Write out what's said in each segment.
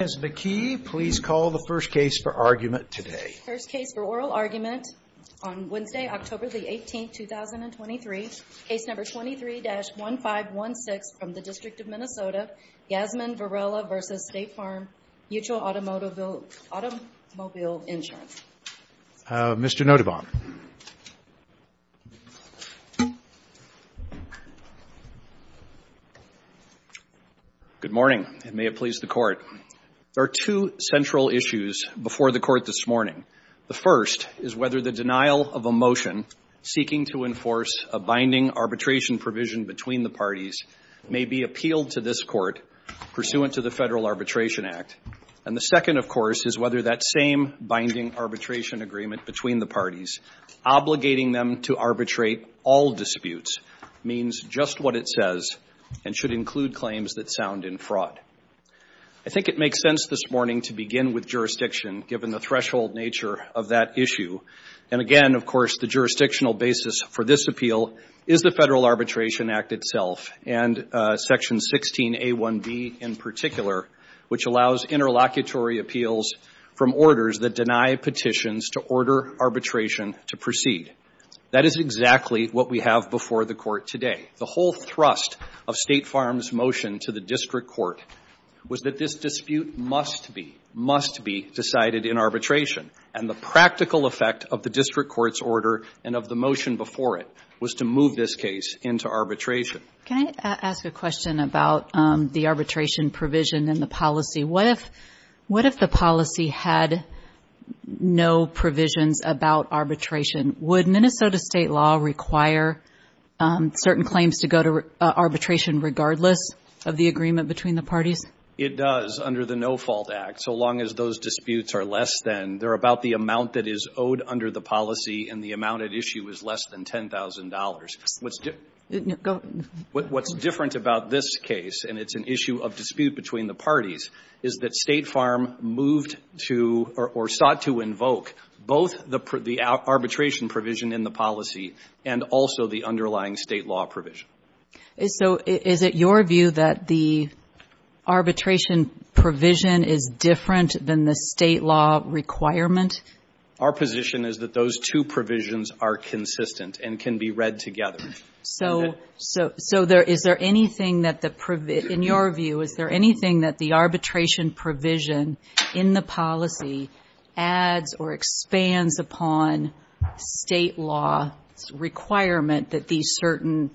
Mr. Notovon, please call the first case for argument today. First case for oral argument on Wednesday, October 18, 2023, Case No. 23-1516 from the District of Minnesota, Yasmin Varela v. State Farm Mutual Automobile Insurance. Mr. Notovon. Good morning, and may it please the Court. There are two central issues before the Court this morning. The first is whether the denial of a motion seeking to enforce a binding arbitration provision between the parties may be appealed to this Court pursuant to the Federal Arbitration Act. And the second, of course, is whether that same binding arbitration agreement between the parties obligating them to arbitrate all disputes means just what it says and should include claims that sound in fraud. I think it makes sense this morning to begin with jurisdiction, given the threshold nature of that issue. And again, of course, the jurisdictional basis for this appeal is the Federal Arbitration Act itself, and Section 16A1B in particular, which allows interlocutory appeals from orders that deny petitions to order arbitration to proceed. That is exactly what we have before the Court today. The whole thrust of State Farm's motion to the district court was that this dispute must be, must be decided in arbitration. And the practical effect of the district court's order and of the motion before it was to move this case into arbitration. Can I ask a question about the arbitration provision in the policy? What if, what if the policy had no provisions about arbitration? Would Minnesota State law require certain claims to go to arbitration regardless of the agreement between the parties? It does under the No Fault Act. So long as those disputes are less than, they're about the amount that is owed under the policy and the amount at issue is less than $10,000. What's different about this case, and it's an issue of dispute between the parties, is that State Farm moved to or sought to invoke both the arbitration provision in the policy and also the underlying State law provision. So is it your view that the arbitration provision is different than the State law requirement? Our position is that those two provisions are consistent and can be read together. So, so, so there, is there anything that the, in your view, is there anything that the arbitration provision in the policy adds or expands upon State law requirement that these certain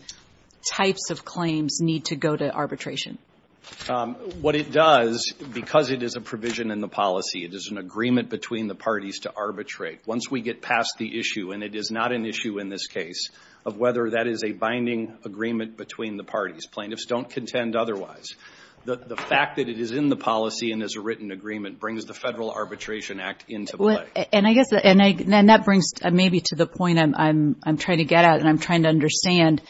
types of claims need to go to arbitration? What it does, because it is a provision in the policy, it is an agreement between the parties to arbitrate. Once we get past the issue, and it is not an issue in this case, of whether that is a binding agreement between the parties, plaintiffs don't contend otherwise. The, the fact that it is in the policy and is a written agreement brings the Federal Arbitration Act into play. And I guess, and I, and that brings maybe to the point I'm, I'm, I'm trying to get at, and I'm trying to understand,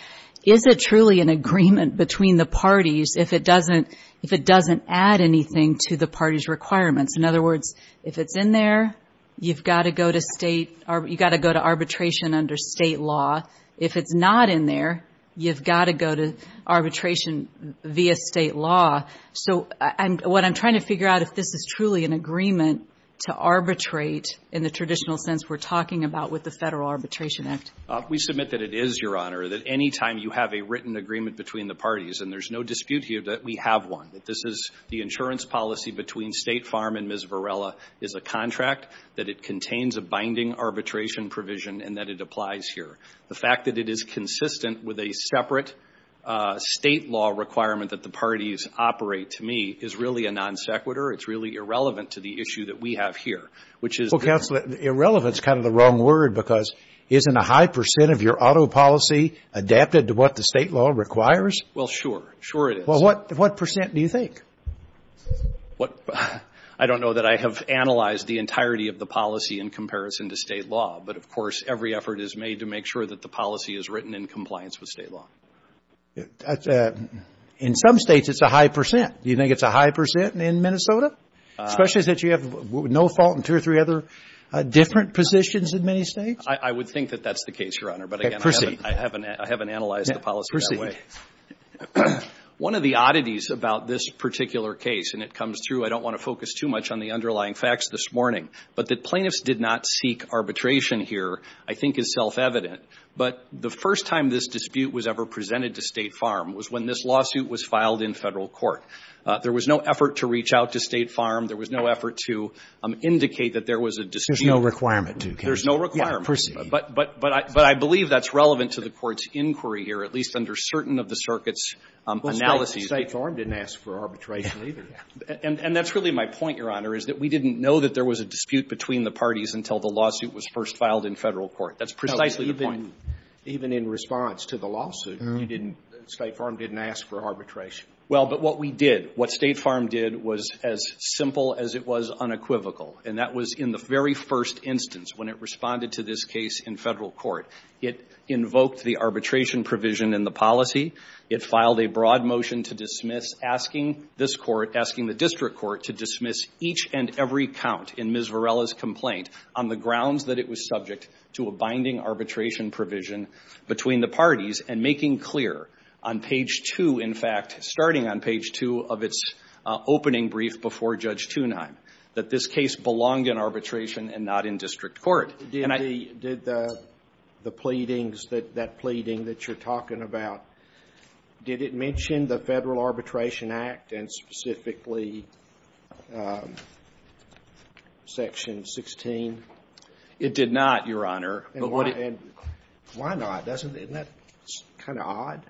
is it truly an agreement between the parties if it doesn't, if it doesn't add anything to the parties' requirements? In other words, if it's in there, you've got to go to State, you've got to go to arbitration under State law. If it's not in there, you've got to go to arbitration via State law. So I'm, what I'm trying to figure out, if this is truly an agreement to arbitrate in the traditional sense we're talking about with the Federal Arbitration Act. We submit that it is, Your Honor, that any time you have a written agreement between the parties, and there's no dispute here that we have one. That this is the insurance policy between State Farm and Ms. Varela is a contract, that it contains a binding arbitration provision, and that it applies here. The fact that it is consistent with a separate State law requirement that the parties operate, to me, is really a non sequitur. It's really irrelevant to the issue that we have here, which is... Well, Counselor, irrelevant is kind of the wrong word, because isn't a high percent of your auto policy adapted to what the State law requires? Well, sure, sure it is. Well, what, what percent do you think? What, I don't know that I have analyzed the entirety of the policy in comparison to State law. But, of course, every effort is made to make sure that the policy is written in compliance with State law. In some States it's a high percent. Do you think it's a high percent in Minnesota? Especially since you have no fault in two or three other different positions in many States? I would think that that's the case, Your Honor. Proceed. One of the oddities about this particular case, and it comes through, I don't want to focus too much on the underlying facts this morning, but that plaintiffs did not seek arbitration here I think is self-evident. But the first time this dispute was ever presented to State Farm was when this lawsuit was filed in Federal court. There was no effort to reach out to State Farm. There was no effort to indicate that there was a decision... There's no requirement to. There's no requirement. Proceed. But I believe that's relevant to the Court's inquiry here, at least under certain of the circuit's analyses. Well, State Farm didn't ask for arbitration either. And that's really my point, Your Honor, is that we didn't know that there was a dispute between the parties until the lawsuit was first filed in Federal court. That's precisely the point. Even in response to the lawsuit, you didn't, State Farm didn't ask for arbitration. Well, but what we did, what State Farm did was as simple as it was unequivocal. And that was in the very first instance when it responded to this case in Federal court. It invoked the arbitration provision in the policy. It filed a broad motion to dismiss, asking this court, asking the district court to dismiss each and every count in Ms. Varela's complaint on the grounds that it was subject to a binding arbitration provision between the parties and making clear on page two, in fact, starting on page two of its opening brief before Judge Thunheim, that this case belonged in arbitration and not in district court. Did the pleadings, that pleading that you're talking about, did it mention the Federal Arbitration Act and specifically Section 16? It did not, Your Honor. Why not? Isn't that kind of odd?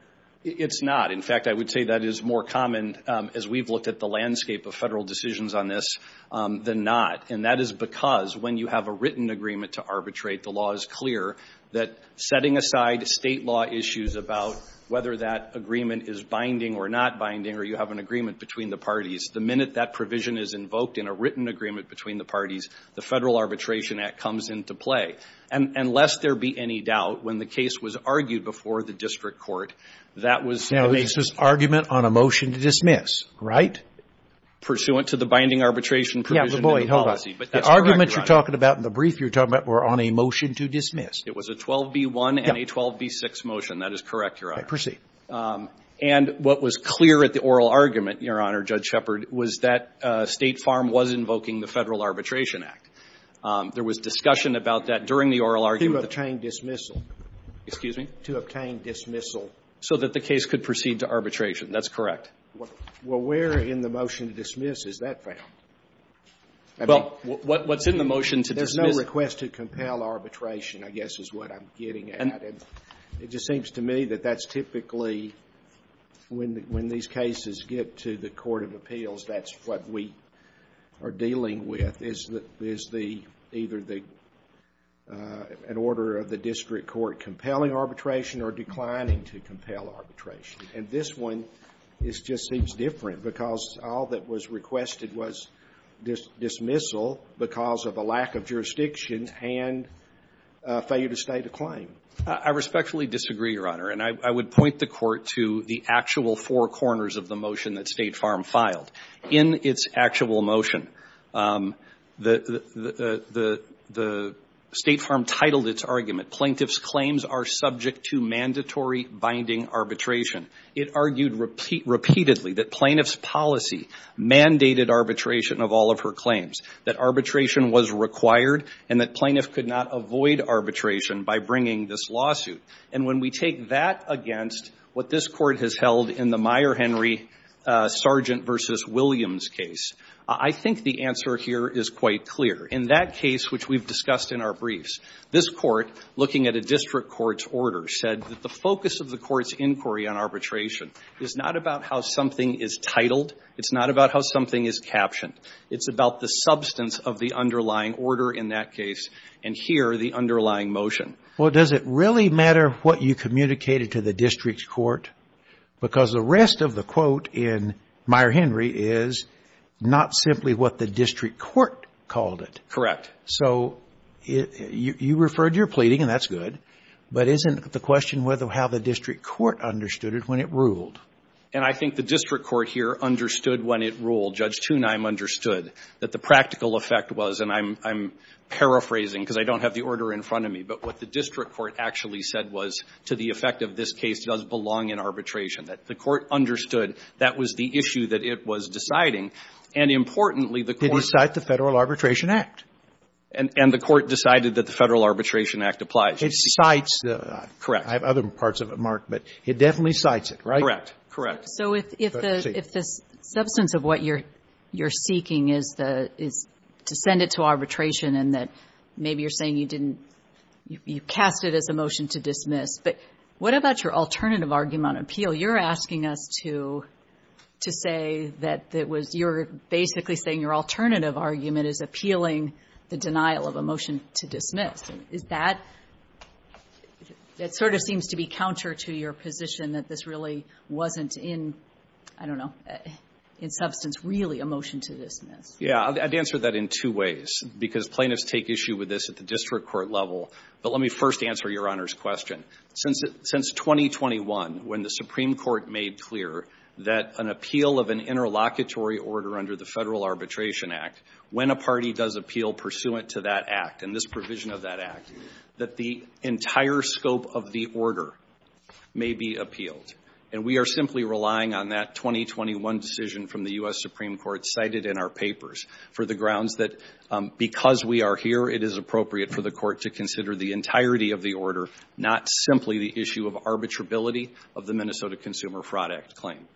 It's not. In fact, I would say that is more common as we've looked at the landscape of Federal decisions on this than not. And that is because when you have a written agreement to arbitrate, the law is clear that setting aside State law issues about whether that agreement is binding or not binding or you have an agreement between the parties, the minute that provision is invoked in a written agreement between the parties, the Federal Arbitration Act comes into play. And lest there be any doubt, when the case was argued before the district court, that was the basis. Now, this was argument on a motion to dismiss, right? Pursuant to the binding arbitration provision in the policy. But the argument you're talking about in the brief you're talking about were on a motion to dismiss. It was a 12b-1 and a 12b-6 motion. That is correct, Your Honor. Proceed. And what was clear at the oral argument, Your Honor, Judge Shepard, was that State Farm was invoking the Federal Arbitration Act. There was discussion about that during the oral argument. To obtain dismissal. Excuse me? To obtain dismissal. So that the case could proceed to arbitration. That's correct. Well, where in the motion to dismiss is that found? Well, what's in the motion to dismiss? There's no request to compel arbitration, I guess, is what I'm getting at. And it just seems to me that that's typically, when these cases get to the court of appeals, that's what we are dealing with, is the – either the – an order of the district court compelling arbitration or declining to compel arbitration. And this one just seems different, because all that was requested was dismissal because of a lack of jurisdiction and a failure to state a claim. I respectfully disagree, Your Honor. And I would point the Court to the actual four corners of the motion that State Farm filed. In its actual motion, the State Farm titled its argument, Plaintiffs' Claims are subject to mandatory binding arbitration. It argued repeatedly that Plaintiffs' policy mandated arbitration of all of her claims, that arbitration was required, and that Plaintiffs could not avoid arbitration by bringing this lawsuit. And when we take that against what this Court has held in the Meyer-Henry Sargent v. Williams case, I think the answer here is quite clear. In that case, which we've discussed in our briefs, this Court, looking at a district court's order, said that the focus of the court's inquiry on arbitration is not about how something is titled. It's not about how something is captioned. It's about the substance of the underlying order in that case and here the underlying motion. Well, does it really matter what you communicated to the district court? Because the rest of the quote in Meyer-Henry is not simply what the district court called it. Correct. So you referred to your pleading, and that's good. But isn't the question whether how the district court understood it when it ruled? And I think the district court here understood when it ruled. Judge Tunheim understood that the practical effect was, and I'm paraphrasing because I don't have the order in front of me, but what the district court actually said was, to the effect of this case does belong in arbitration, that the court understood that was the issue that it was deciding. And importantly, the court didn't cite the Federal Arbitration Act. And the court decided that the Federal Arbitration Act applies. It cites. Correct. I have other parts of it, Mark, but it definitely cites it, right? Correct. Correct. So if the substance of what you're seeking is to send it to arbitration and that maybe you're saying you didn't, you cast it as a motion to dismiss, but what about your alternative argument on appeal? You're asking us to say that it was, you're basically saying your alternative argument is appealing the denial of a motion to dismiss. Is that, it sort of seems to be counter to your position that this really wasn't in, I don't know, in substance really a motion to dismiss. Yeah, I'd answer that in two ways, because plaintiffs take issue with this at the district court level. But let me first answer Your Honor's question. Since 2021, when the Supreme Court made clear that an appeal of an interlocutory order under the Federal Arbitration Act, when a party does appeal pursuant to that act and this provision of that act, that the entire scope of the order may be appealed. And we are simply relying on that 2021 decision from the U.S. Supreme Court cited in our papers for the grounds that because we are here, it is appropriate for the court to consider the entirety of the order, not simply the issue of arbitrability of the Minnesota Consumer Fraud Act claim.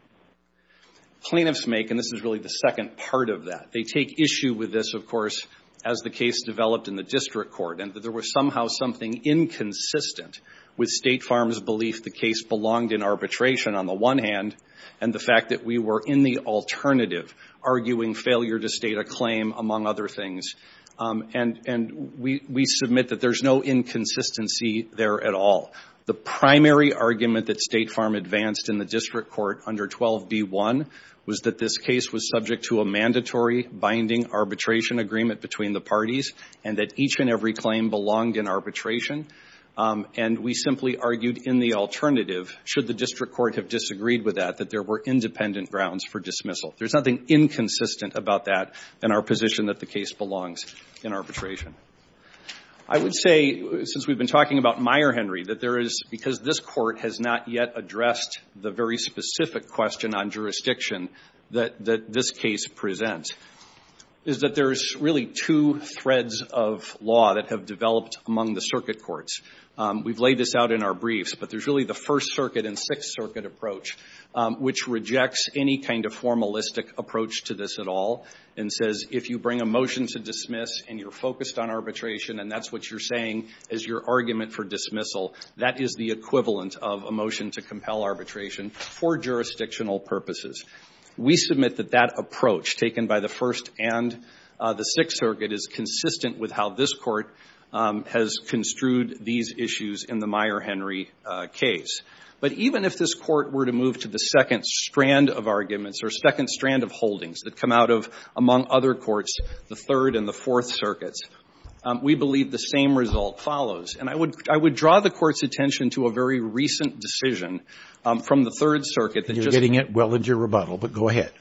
Plaintiffs make, and this is really the second part of that, they take issue with this, of course, as the case developed in the district court. And that there was somehow something inconsistent with State Farm's belief the case belonged in arbitration on the one hand, and the fact that we were in the alternative, arguing failure to state a claim, among other things. And we submit that there's no inconsistency there at all. The primary argument that State Farm advanced in the district court under 12b1 was that this case was subject to a mandatory binding arbitration agreement between the parties, and that each and every claim belonged in arbitration. And we simply argued in the alternative, should the district court have disagreed with that, that there were independent grounds for dismissal. There's nothing inconsistent about that in our position that the case belongs in arbitration. I would say, since we've been talking about Meyer-Henry, that there is, because this court has not yet addressed the very specific question on jurisdiction that this case presents, is that there's really two threads of law that have developed among the circuit courts. We've laid this out in our briefs, but there's really the First Circuit and Sixth Circuit approach, which rejects any kind of formalistic approach to this at all, and says, if you bring a motion to dismiss and you're focused on arbitration and that's what you're saying as your argument for dismissal, that is the equivalent of a motion to compel arbitration for jurisdictional purposes. We submit that that approach, taken by the First and the Sixth Circuit, is consistent with how this court has construed these issues in the Meyer-Henry case. But even if this court were to move to the second strand of arguments, or second among other courts, the Third and the Fourth Circuits, we believe the same result follows. And I would draw the Court's attention to a very recent decision from the Third Circuit that just — You're getting it well into your rebuttal, but go ahead.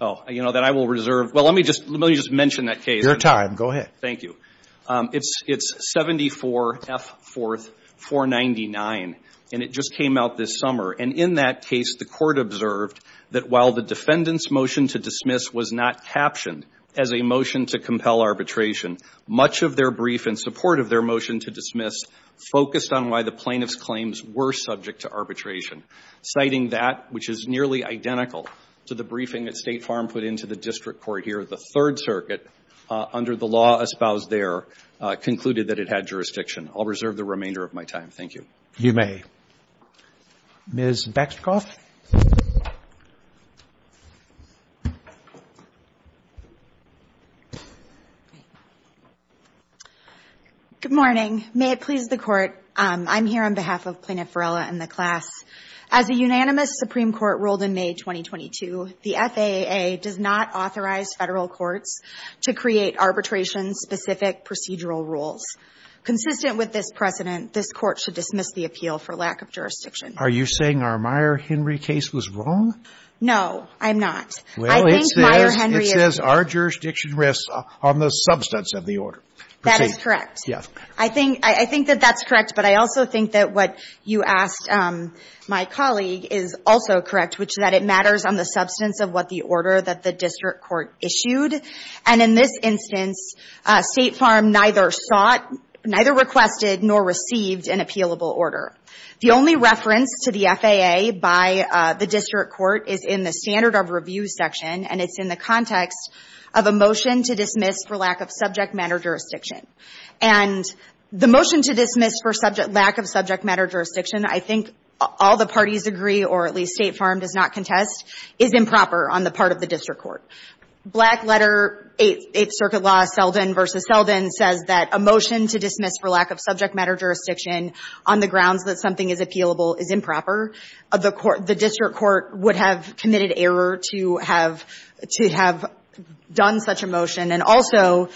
Oh, you know, that I will reserve. Well, let me just mention that case. Your time. Go ahead. Thank you. It's 74 F. 4th, 499, and it just came out this summer. And in that case, the Court observed that while the defendant's motion to dismiss was not captioned as a motion to compel arbitration, much of their brief in support of their motion to dismiss focused on why the plaintiff's claims were subject to arbitration. Citing that, which is nearly identical to the briefing that State Farm put into the district court here, the Third Circuit, under the law espoused there, concluded that it had jurisdiction. I'll reserve the remainder of my time. Thank you. You may. Ms. Baxter-Kauf? Good morning. May it please the Court, I'm here on behalf of Plaintiff Varela and the class. As a unanimous Supreme Court ruled in May 2022, the FAAA does not authorize Federal courts to create arbitration-specific procedural rules. Consistent with this precedent, this Court should dismiss the appeal for lack of jurisdiction. Are you saying our Meyer-Henry case was wrong? No, I'm not. Well, it says our jurisdiction rests on the substance of the order. That is correct. Yes. I think that that's correct, but I also think that what you asked my colleague is also correct, which is that it matters on the substance of what the order that the district court issued. And in this instance, State Farm neither sought, neither requested, nor received an appealable order. The only reference to the FAA by the district court is in the standard of review section, and it's in the context of a motion to dismiss for lack of subject matter jurisdiction. And the motion to dismiss for lack of subject matter jurisdiction, I think all the parties agree, or at least State Farm does not contest, is improper on the part of the district court. Black letter, Eighth Circuit law, Selden v. Selden, says that a motion to dismiss for lack of subject matter jurisdiction on the grounds that something is appealable is improper. The district court would have committed error to have done such a motion, and also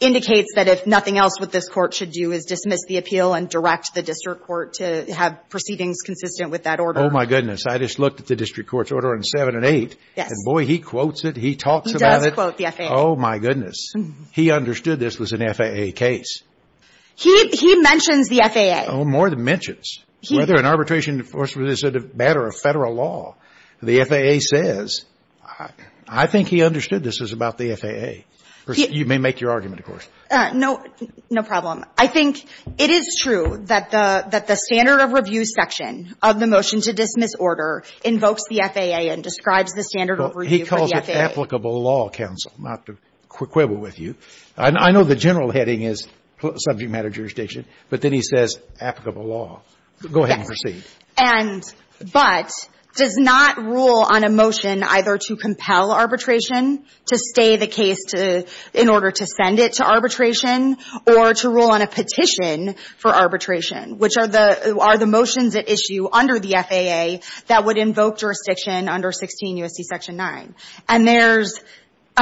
indicates that if nothing else what this Court should do is dismiss the appeal and direct the district court to have proceedings consistent with that order. Oh, my goodness. I just looked at the district court's order on 7 and 8. Yes. And, boy, he quotes it. He talks about it. He does quote the FAA. Oh, my goodness. He understood this was an FAA case. He mentions the FAA. Oh, more than mentions. Whether an arbitration enforcement is a matter of Federal law, the FAA says, I think he understood this was about the FAA. You may make your argument, of course. No. No problem. I think it is true that the standard of review section of the motion to dismiss this order invokes the FAA and describes the standard of review for the FAA. He calls it applicable law, counsel, not to quibble with you. I know the general heading is subject matter jurisdiction, but then he says applicable law. Go ahead and proceed. Yes. And but does not rule on a motion either to compel arbitration, to stay the case to the – in order to send it to arbitration, or to rule on a petition for arbitration, which are the motions at issue under the FAA that would invoke jurisdiction under 16 U.S.C. Section 9. And there's –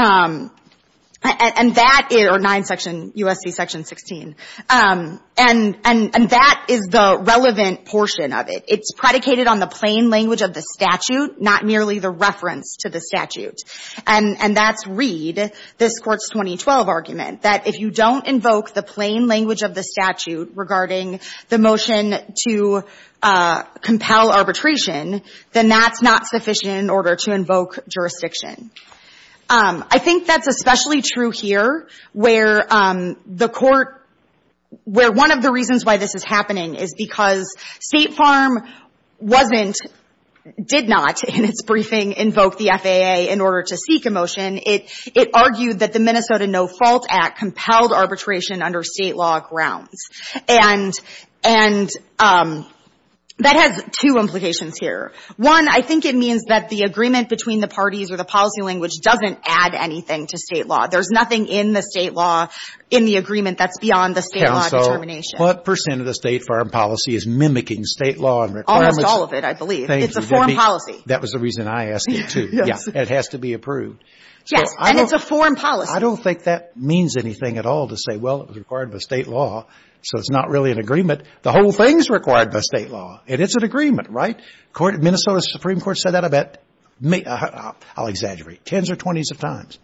and that – or 9 section – U.S.C. Section 16. And that is the relevant portion of it. It's predicated on the plain language of the statute, not merely the reference to the statute. And that's read, this Court's 2012 argument, that if you don't invoke the plain language of the statute regarding the motion to compel arbitration, then that's not sufficient in order to invoke jurisdiction. I think that's especially true here, where the Court – where one of the reasons why this is happening is because State Farm wasn't – did not, in its briefing, invoke the FAA in order to seek a motion. It argued that the Minnesota No Fault Act compelled arbitration under State law grounds. And that has two implications here. One, I think it means that the agreement between the parties or the policy language doesn't add anything to State law. There's nothing in the State law – in the agreement that's beyond the State law determination. Counsel, what percent of the State Farm policy is mimicking State law and requirements? Almost all of it, I believe. Thank you. It's a foreign policy. That was the reason I asked it, too. Yes. And it has to be approved. Yes. And it's a foreign policy. I don't think that means anything at all to say, well, it was required by State law, so it's not really an agreement. The whole thing is required by State law. And it's an agreement, right? The Minnesota Supreme Court said that, I bet – I'll exaggerate – tens or twenties of times.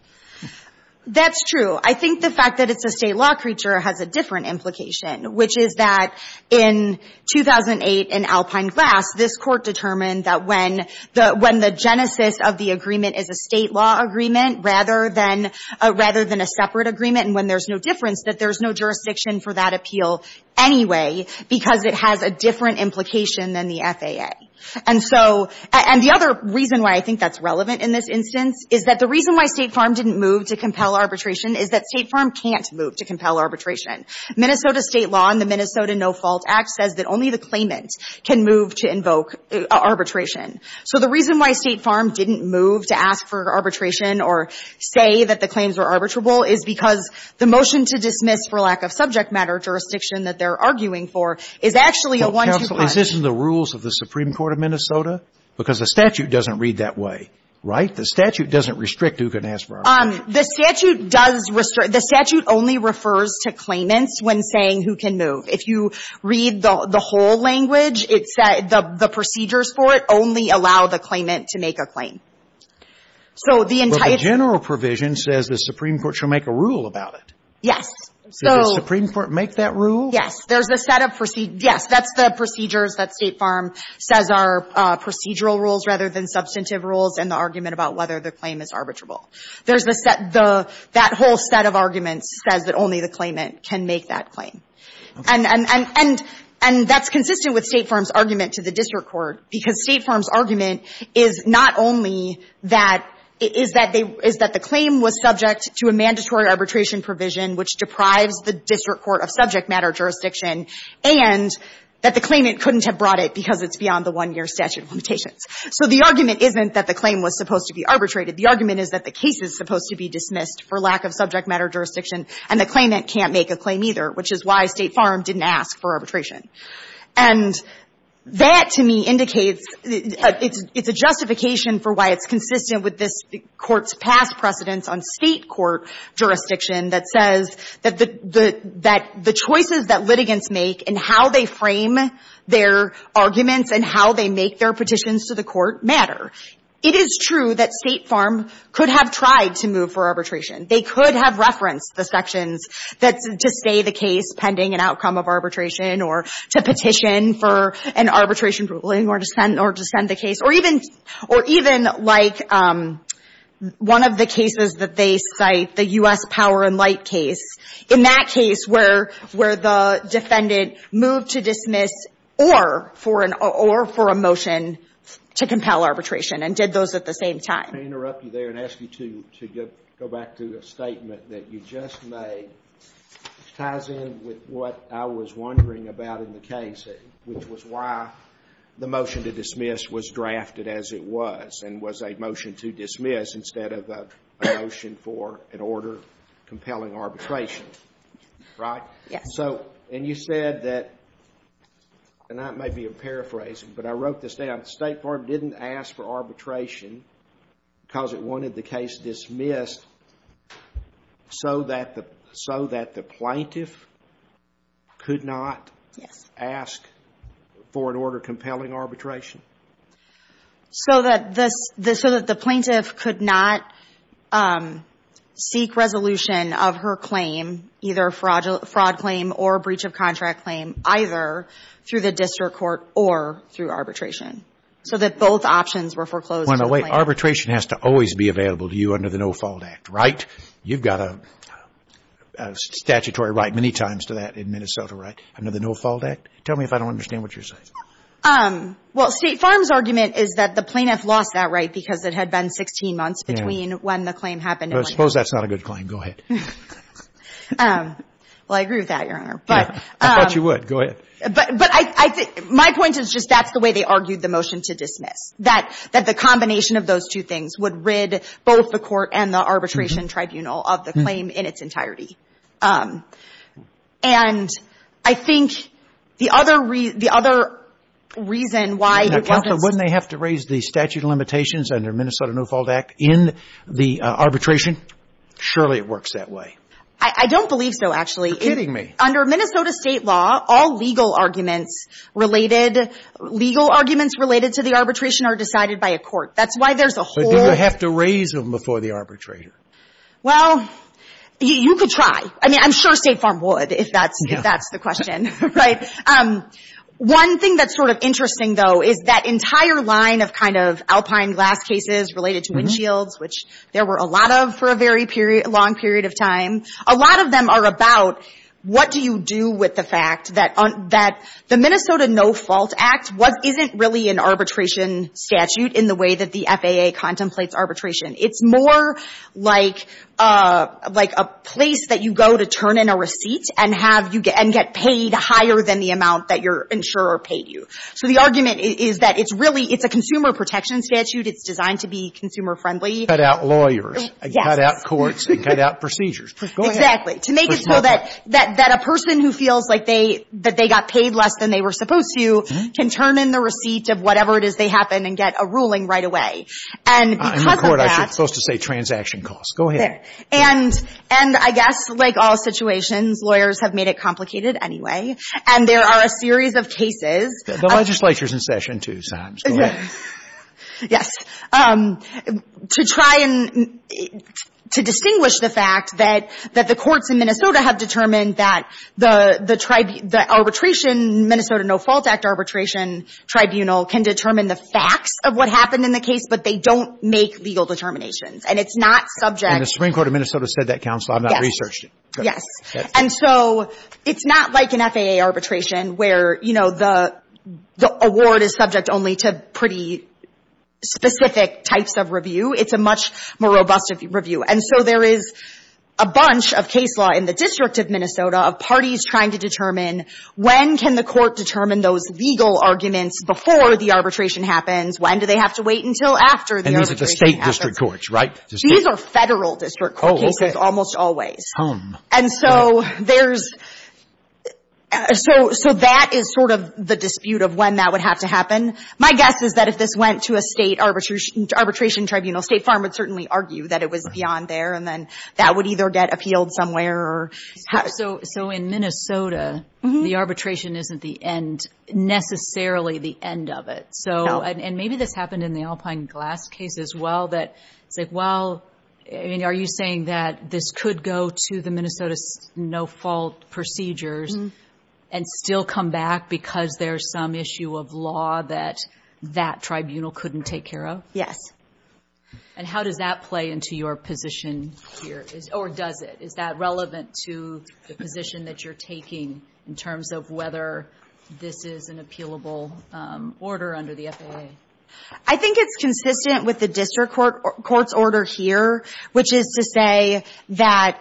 That's true. I think the fact that it's a State law creature has a different implication, which is that in 2008 in Alpine Glass, this Court determined that when the genesis of the agreement is a State law agreement rather than a separate agreement, and when there's no difference, that there's no jurisdiction for that appeal anyway because it has a different implication than the FAA. And so – and the other reason why I think that's relevant in this instance is that the reason why State Farm didn't move to compel arbitration is that State Farm can't move to compel arbitration. Minnesota State law in the Minnesota No-Fault Act says that only the claimant can move to invoke arbitration. So the reason why State Farm didn't move to ask for arbitration or say that the claims are arbitrable is because the motion to dismiss for lack of subject matter jurisdiction that they're arguing for is actually a one-to-one. Counsel, is this in the rules of the Supreme Court of Minnesota? Because the statute doesn't read that way, right? The statute doesn't restrict who can ask for arbitration. The statute does – the statute only refers to claimants when saying who can move. If you read the whole language, it said the procedures for it only allow the claimant to make a claim. So the entire – But the general provision says the Supreme Court shall make a rule about it. Yes. So – Did the Supreme Court make that rule? Yes. There's a set of – yes, that's the procedures that State Farm says are procedural rules rather than substantive rules and the argument about whether the claim is arbitrable. There's the – that whole set of arguments says that only the claimant can make that And – and that's consistent with State Farm's argument to the district court, because State Farm's argument is not only that – is that they – is that the claim was subject to a mandatory arbitration provision which deprives the district court of subject matter jurisdiction and that the claimant couldn't have brought it because it's beyond the one-year statute of limitations. So the argument isn't that the claim was supposed to be arbitrated. The argument is that the case is supposed to be dismissed for lack of subject And that, to me, indicates – it's a justification for why it's consistent with this Court's past precedence on State court jurisdiction that says that the choices that litigants make and how they frame their arguments and how they make their petitions to the court matter. It is true that State Farm could have tried to move for arbitration. They could have referenced the sections that – to stay the case pending an outcome of arbitration or to petition for an arbitration ruling or to send – or to send the case. Or even – or even like one of the cases that they cite, the U.S. Power and Light case. In that case where – where the defendant moved to dismiss or for an – or for a motion to compel arbitration and did those at the same time. Can I interrupt you there and ask you to go back to the statement that you just made? It ties in with what I was wondering about in the case, which was why the motion to dismiss was drafted as it was and was a motion to dismiss instead of a motion for an order compelling arbitration. Right? Yes. So – and you said that – and that may be a paraphrase, but I wrote this down. State Farm didn't ask for arbitration because it wanted the case dismissed so that the – so that the plaintiff could not ask for an order compelling arbitration? So that this – so that the plaintiff could not seek resolution of her claim, either a fraud claim or breach of contract claim, either through the district court or through – so that both options were foreclosed to the plaintiff? Wait, wait. Arbitration has to always be available to you under the No-Fault Act, right? You've got a statutory right many times to that in Minnesota, right, under the No-Fault Act? Tell me if I don't understand what you're saying. Well, State Farm's argument is that the plaintiff lost that right because it had been 16 months between when the claim happened and when – Well, I suppose that's not a good claim. Go ahead. Well, I agree with that, Your Honor, but – I thought you would. Go ahead. But I – my point is just that's the way they argued the motion to dismiss, that the combination of those two things would rid both the court and the arbitration tribunal of the claim in its entirety. And I think the other – the other reason why it doesn't – Counsel, wouldn't they have to raise the statute of limitations under Minnesota No-Fault Act in the arbitration? Surely it works that way. I don't believe so, actually. You're kidding me. I mean, under Minnesota state law, all legal arguments related – legal arguments related to the arbitration are decided by a court. That's why there's a whole – But do you have to raise them before the arbitrator? Well, you could try. I mean, I'm sure State Farm would, if that's – Yeah. If that's the question, right? One thing that's sort of interesting, though, is that entire line of kind of alpine glass cases related to windshields, which there were a lot of for a very period – long period of time. A lot of them are about what do you do with the fact that – that the Minnesota No-Fault Act wasn't – isn't really an arbitration statute in the way that the FAA contemplates arbitration. It's more like – like a place that you go to turn in a receipt and have you – and get paid higher than the amount that your insurer paid you. So the argument is that it's really – it's a consumer protection statute. It's designed to be consumer-friendly. Cut out lawyers. Yes. Cut out courts and cut out procedures. Go ahead. Exactly. To make it so that – that a person who feels like they – that they got paid less than they were supposed to can turn in the receipt of whatever it is they happen and get a ruling right away. And because of that – I'm in court. I'm supposed to say transaction costs. Go ahead. There. And I guess, like all situations, lawyers have made it complicated anyway. And there are a series of cases – The legislature's in session, too, Sam. Go ahead. Yes. To try and – to distinguish the fact that the courts in Minnesota have determined that the arbitration – Minnesota No Fault Act arbitration tribunal can determine the facts of what happened in the case, but they don't make legal determinations. And it's not subject – And the Supreme Court of Minnesota said that, Counsel. I've not researched it. Yes. And so it's not like an FAA arbitration where, you know, the award is subject only to pretty specific types of review. It's a much more robust review. And so there is a bunch of case law in the District of Minnesota of parties trying to determine when can the court determine those legal arguments before the arbitration happens, when do they have to wait until after the arbitration happens. And these are the state district courts, right? These are federal district court cases almost always. Oh, okay. And so there's – so that is sort of the dispute of when that would have to happen. My guess is that if this went to a state arbitration tribunal, State Farm would certainly argue that it was beyond there and then that would either get appealed somewhere or – So in Minnesota, the arbitration isn't the end – necessarily the end of it. No. So – and maybe this happened in the Alpine Glass case as well, that it's like, well, I mean, are you saying that this could go to the Minnesota's no fault procedures and still come back because there's some issue of law that that tribunal couldn't take care of? Yes. And how does that play into your position here? Or does it? Is that relevant to the position that you're taking in terms of whether this is an appealable order under the FAA? I think it's consistent with the district court's order here, which is to say that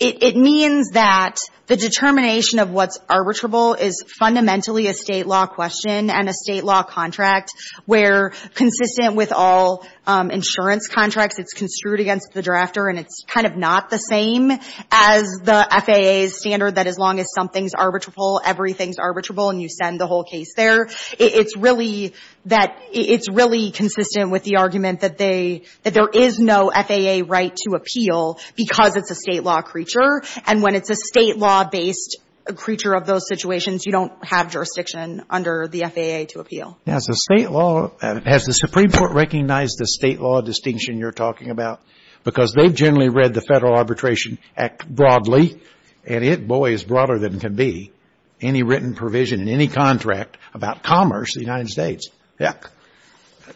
it means that the determination of what's arbitrable is fundamentally a state law question and a state law contract where, consistent with all insurance contracts, it's construed against the drafter and it's kind of not the same as the FAA's standard that as long as something's arbitrable, everything's arbitrable and you send the whole case there. It's really that – it's really consistent with the argument that they – that there is no FAA right to appeal because it's a state law creature. And when it's a state law-based creature of those situations, you don't have jurisdiction under the FAA to appeal. Now, as a state law – has the Supreme Court recognized the state law distinction you're talking about? Because they've generally read the Federal Arbitration Act broadly, and it, boy, is broader than it can be, any written provision in any contract about commerce in the United States. Yeah.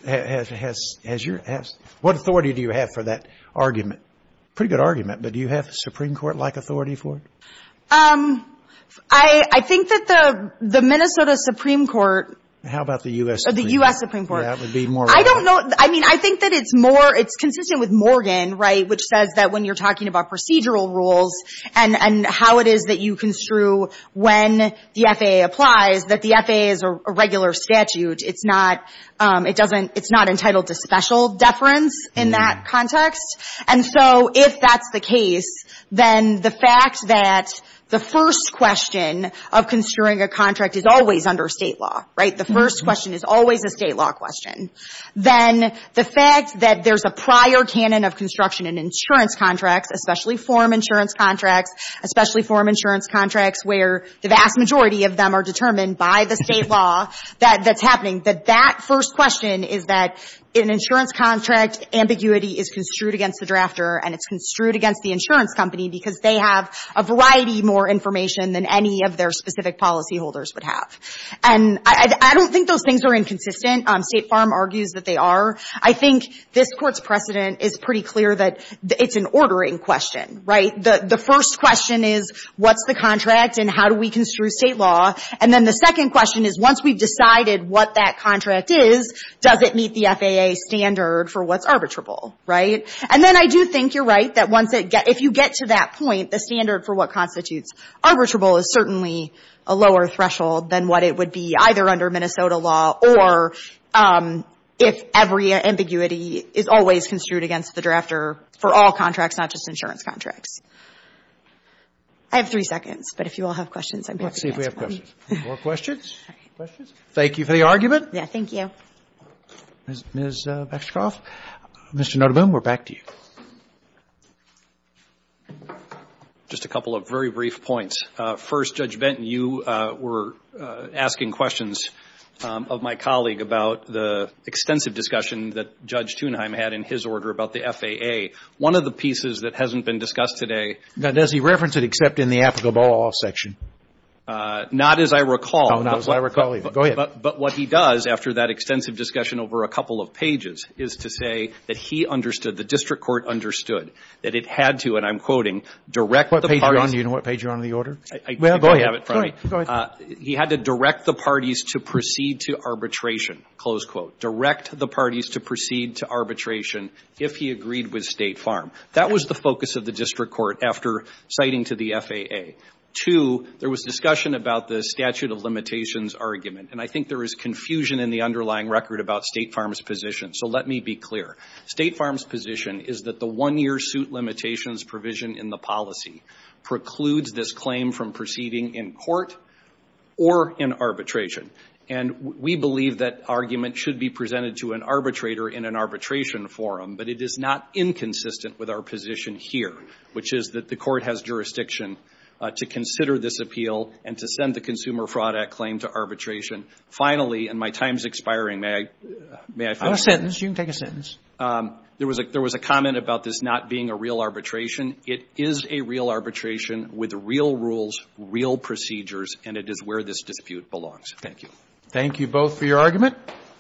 Has your – what authority do you have for that argument? Pretty good argument, but do you have a Supreme Court-like authority for it? I think that the Minnesota Supreme Court – How about the U.S. Supreme Court? The U.S. Supreme Court. That would be more relevant. I don't know – I mean, I think that it's more – it's consistent with Morgan, right, which says that when you're talking about procedural rules and how it is that you construe when the FAA applies, that the FAA is a regular statute. It's not – it doesn't – it's not entitled to special deference in that context. And so if that's the case, then the fact that the first question of construing a contract is always under state law, right? The first question is always a state law question. Then the fact that there's a prior canon of construction in insurance contracts, especially form insurance contracts, especially form insurance contracts where the vast majority of them are determined by the state law that's happening, that that first question is that in an insurance contract, ambiguity is construed against the drafter and it's construed against the insurance company because they have a variety more information than any of their specific policyholders would have. And I don't think those things are inconsistent. State Farm argues that they are. I think this Court's precedent is pretty clear that it's an ordering question, right? The first question is what's the contract and how do we construe state law? And then the second question is once we've decided what that contract is, does it meet the FAA standard for what's arbitrable, right? And then I do think you're right that once it – if you get to that point, the standard for what constitutes arbitrable is certainly a lower threshold than what it would be either under Minnesota law or if every ambiguity is always construed against the drafter for all contracts, not just insurance contracts. I have three seconds, but if you all have questions, I'd be happy to answer them. Let's see if we have questions. More questions? Questions? Thank you for the argument. Yeah, thank you. Ms. Baxter-Croft, Mr. Notoboom, we're back to you. Just a couple of very brief points. First, Judge Benton, you were asking questions of my colleague about the extensive discussion that Judge Thunheim had in his order about the FAA. One of the pieces that hasn't been discussed today – Now, does he reference it except in the applicable law section? Not as I recall. Oh, not as I recall either. Go ahead. But what he does after that extensive discussion over a couple of pages is to say that he understood, the district court understood, that it had to, and I'm quoting, direct the parties – Do you know what page you're on in the order? Well, go ahead. Go ahead. He had to direct the parties to proceed to arbitration, close quote. Direct the parties to proceed to arbitration if he agreed with State Farm. That was the focus of the district court after citing to the FAA. Two, there was discussion about the statute of limitations argument, and I think there is confusion in the underlying record about State Farm's position. So let me be clear. State Farm's position is that the one-year suit limitations provision in the policy precludes this claim from proceeding in court or in arbitration. And we believe that argument should be presented to an arbitrator in an arbitration forum, but it is not inconsistent with our position here, which is that the court has jurisdiction to consider this appeal and to send the consumer fraud act claim to arbitration. Finally, and my time is expiring, may I finish? You have a sentence. You can take a sentence. There was a comment about this not being a real arbitration. It is a real arbitration with real rules, real procedures, and it is where this dispute belongs. Thank you. Thank you both for your argument.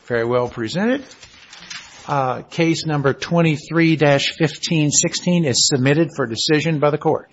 Very well presented. Case number 23-1516 is submitted for decision by the Court.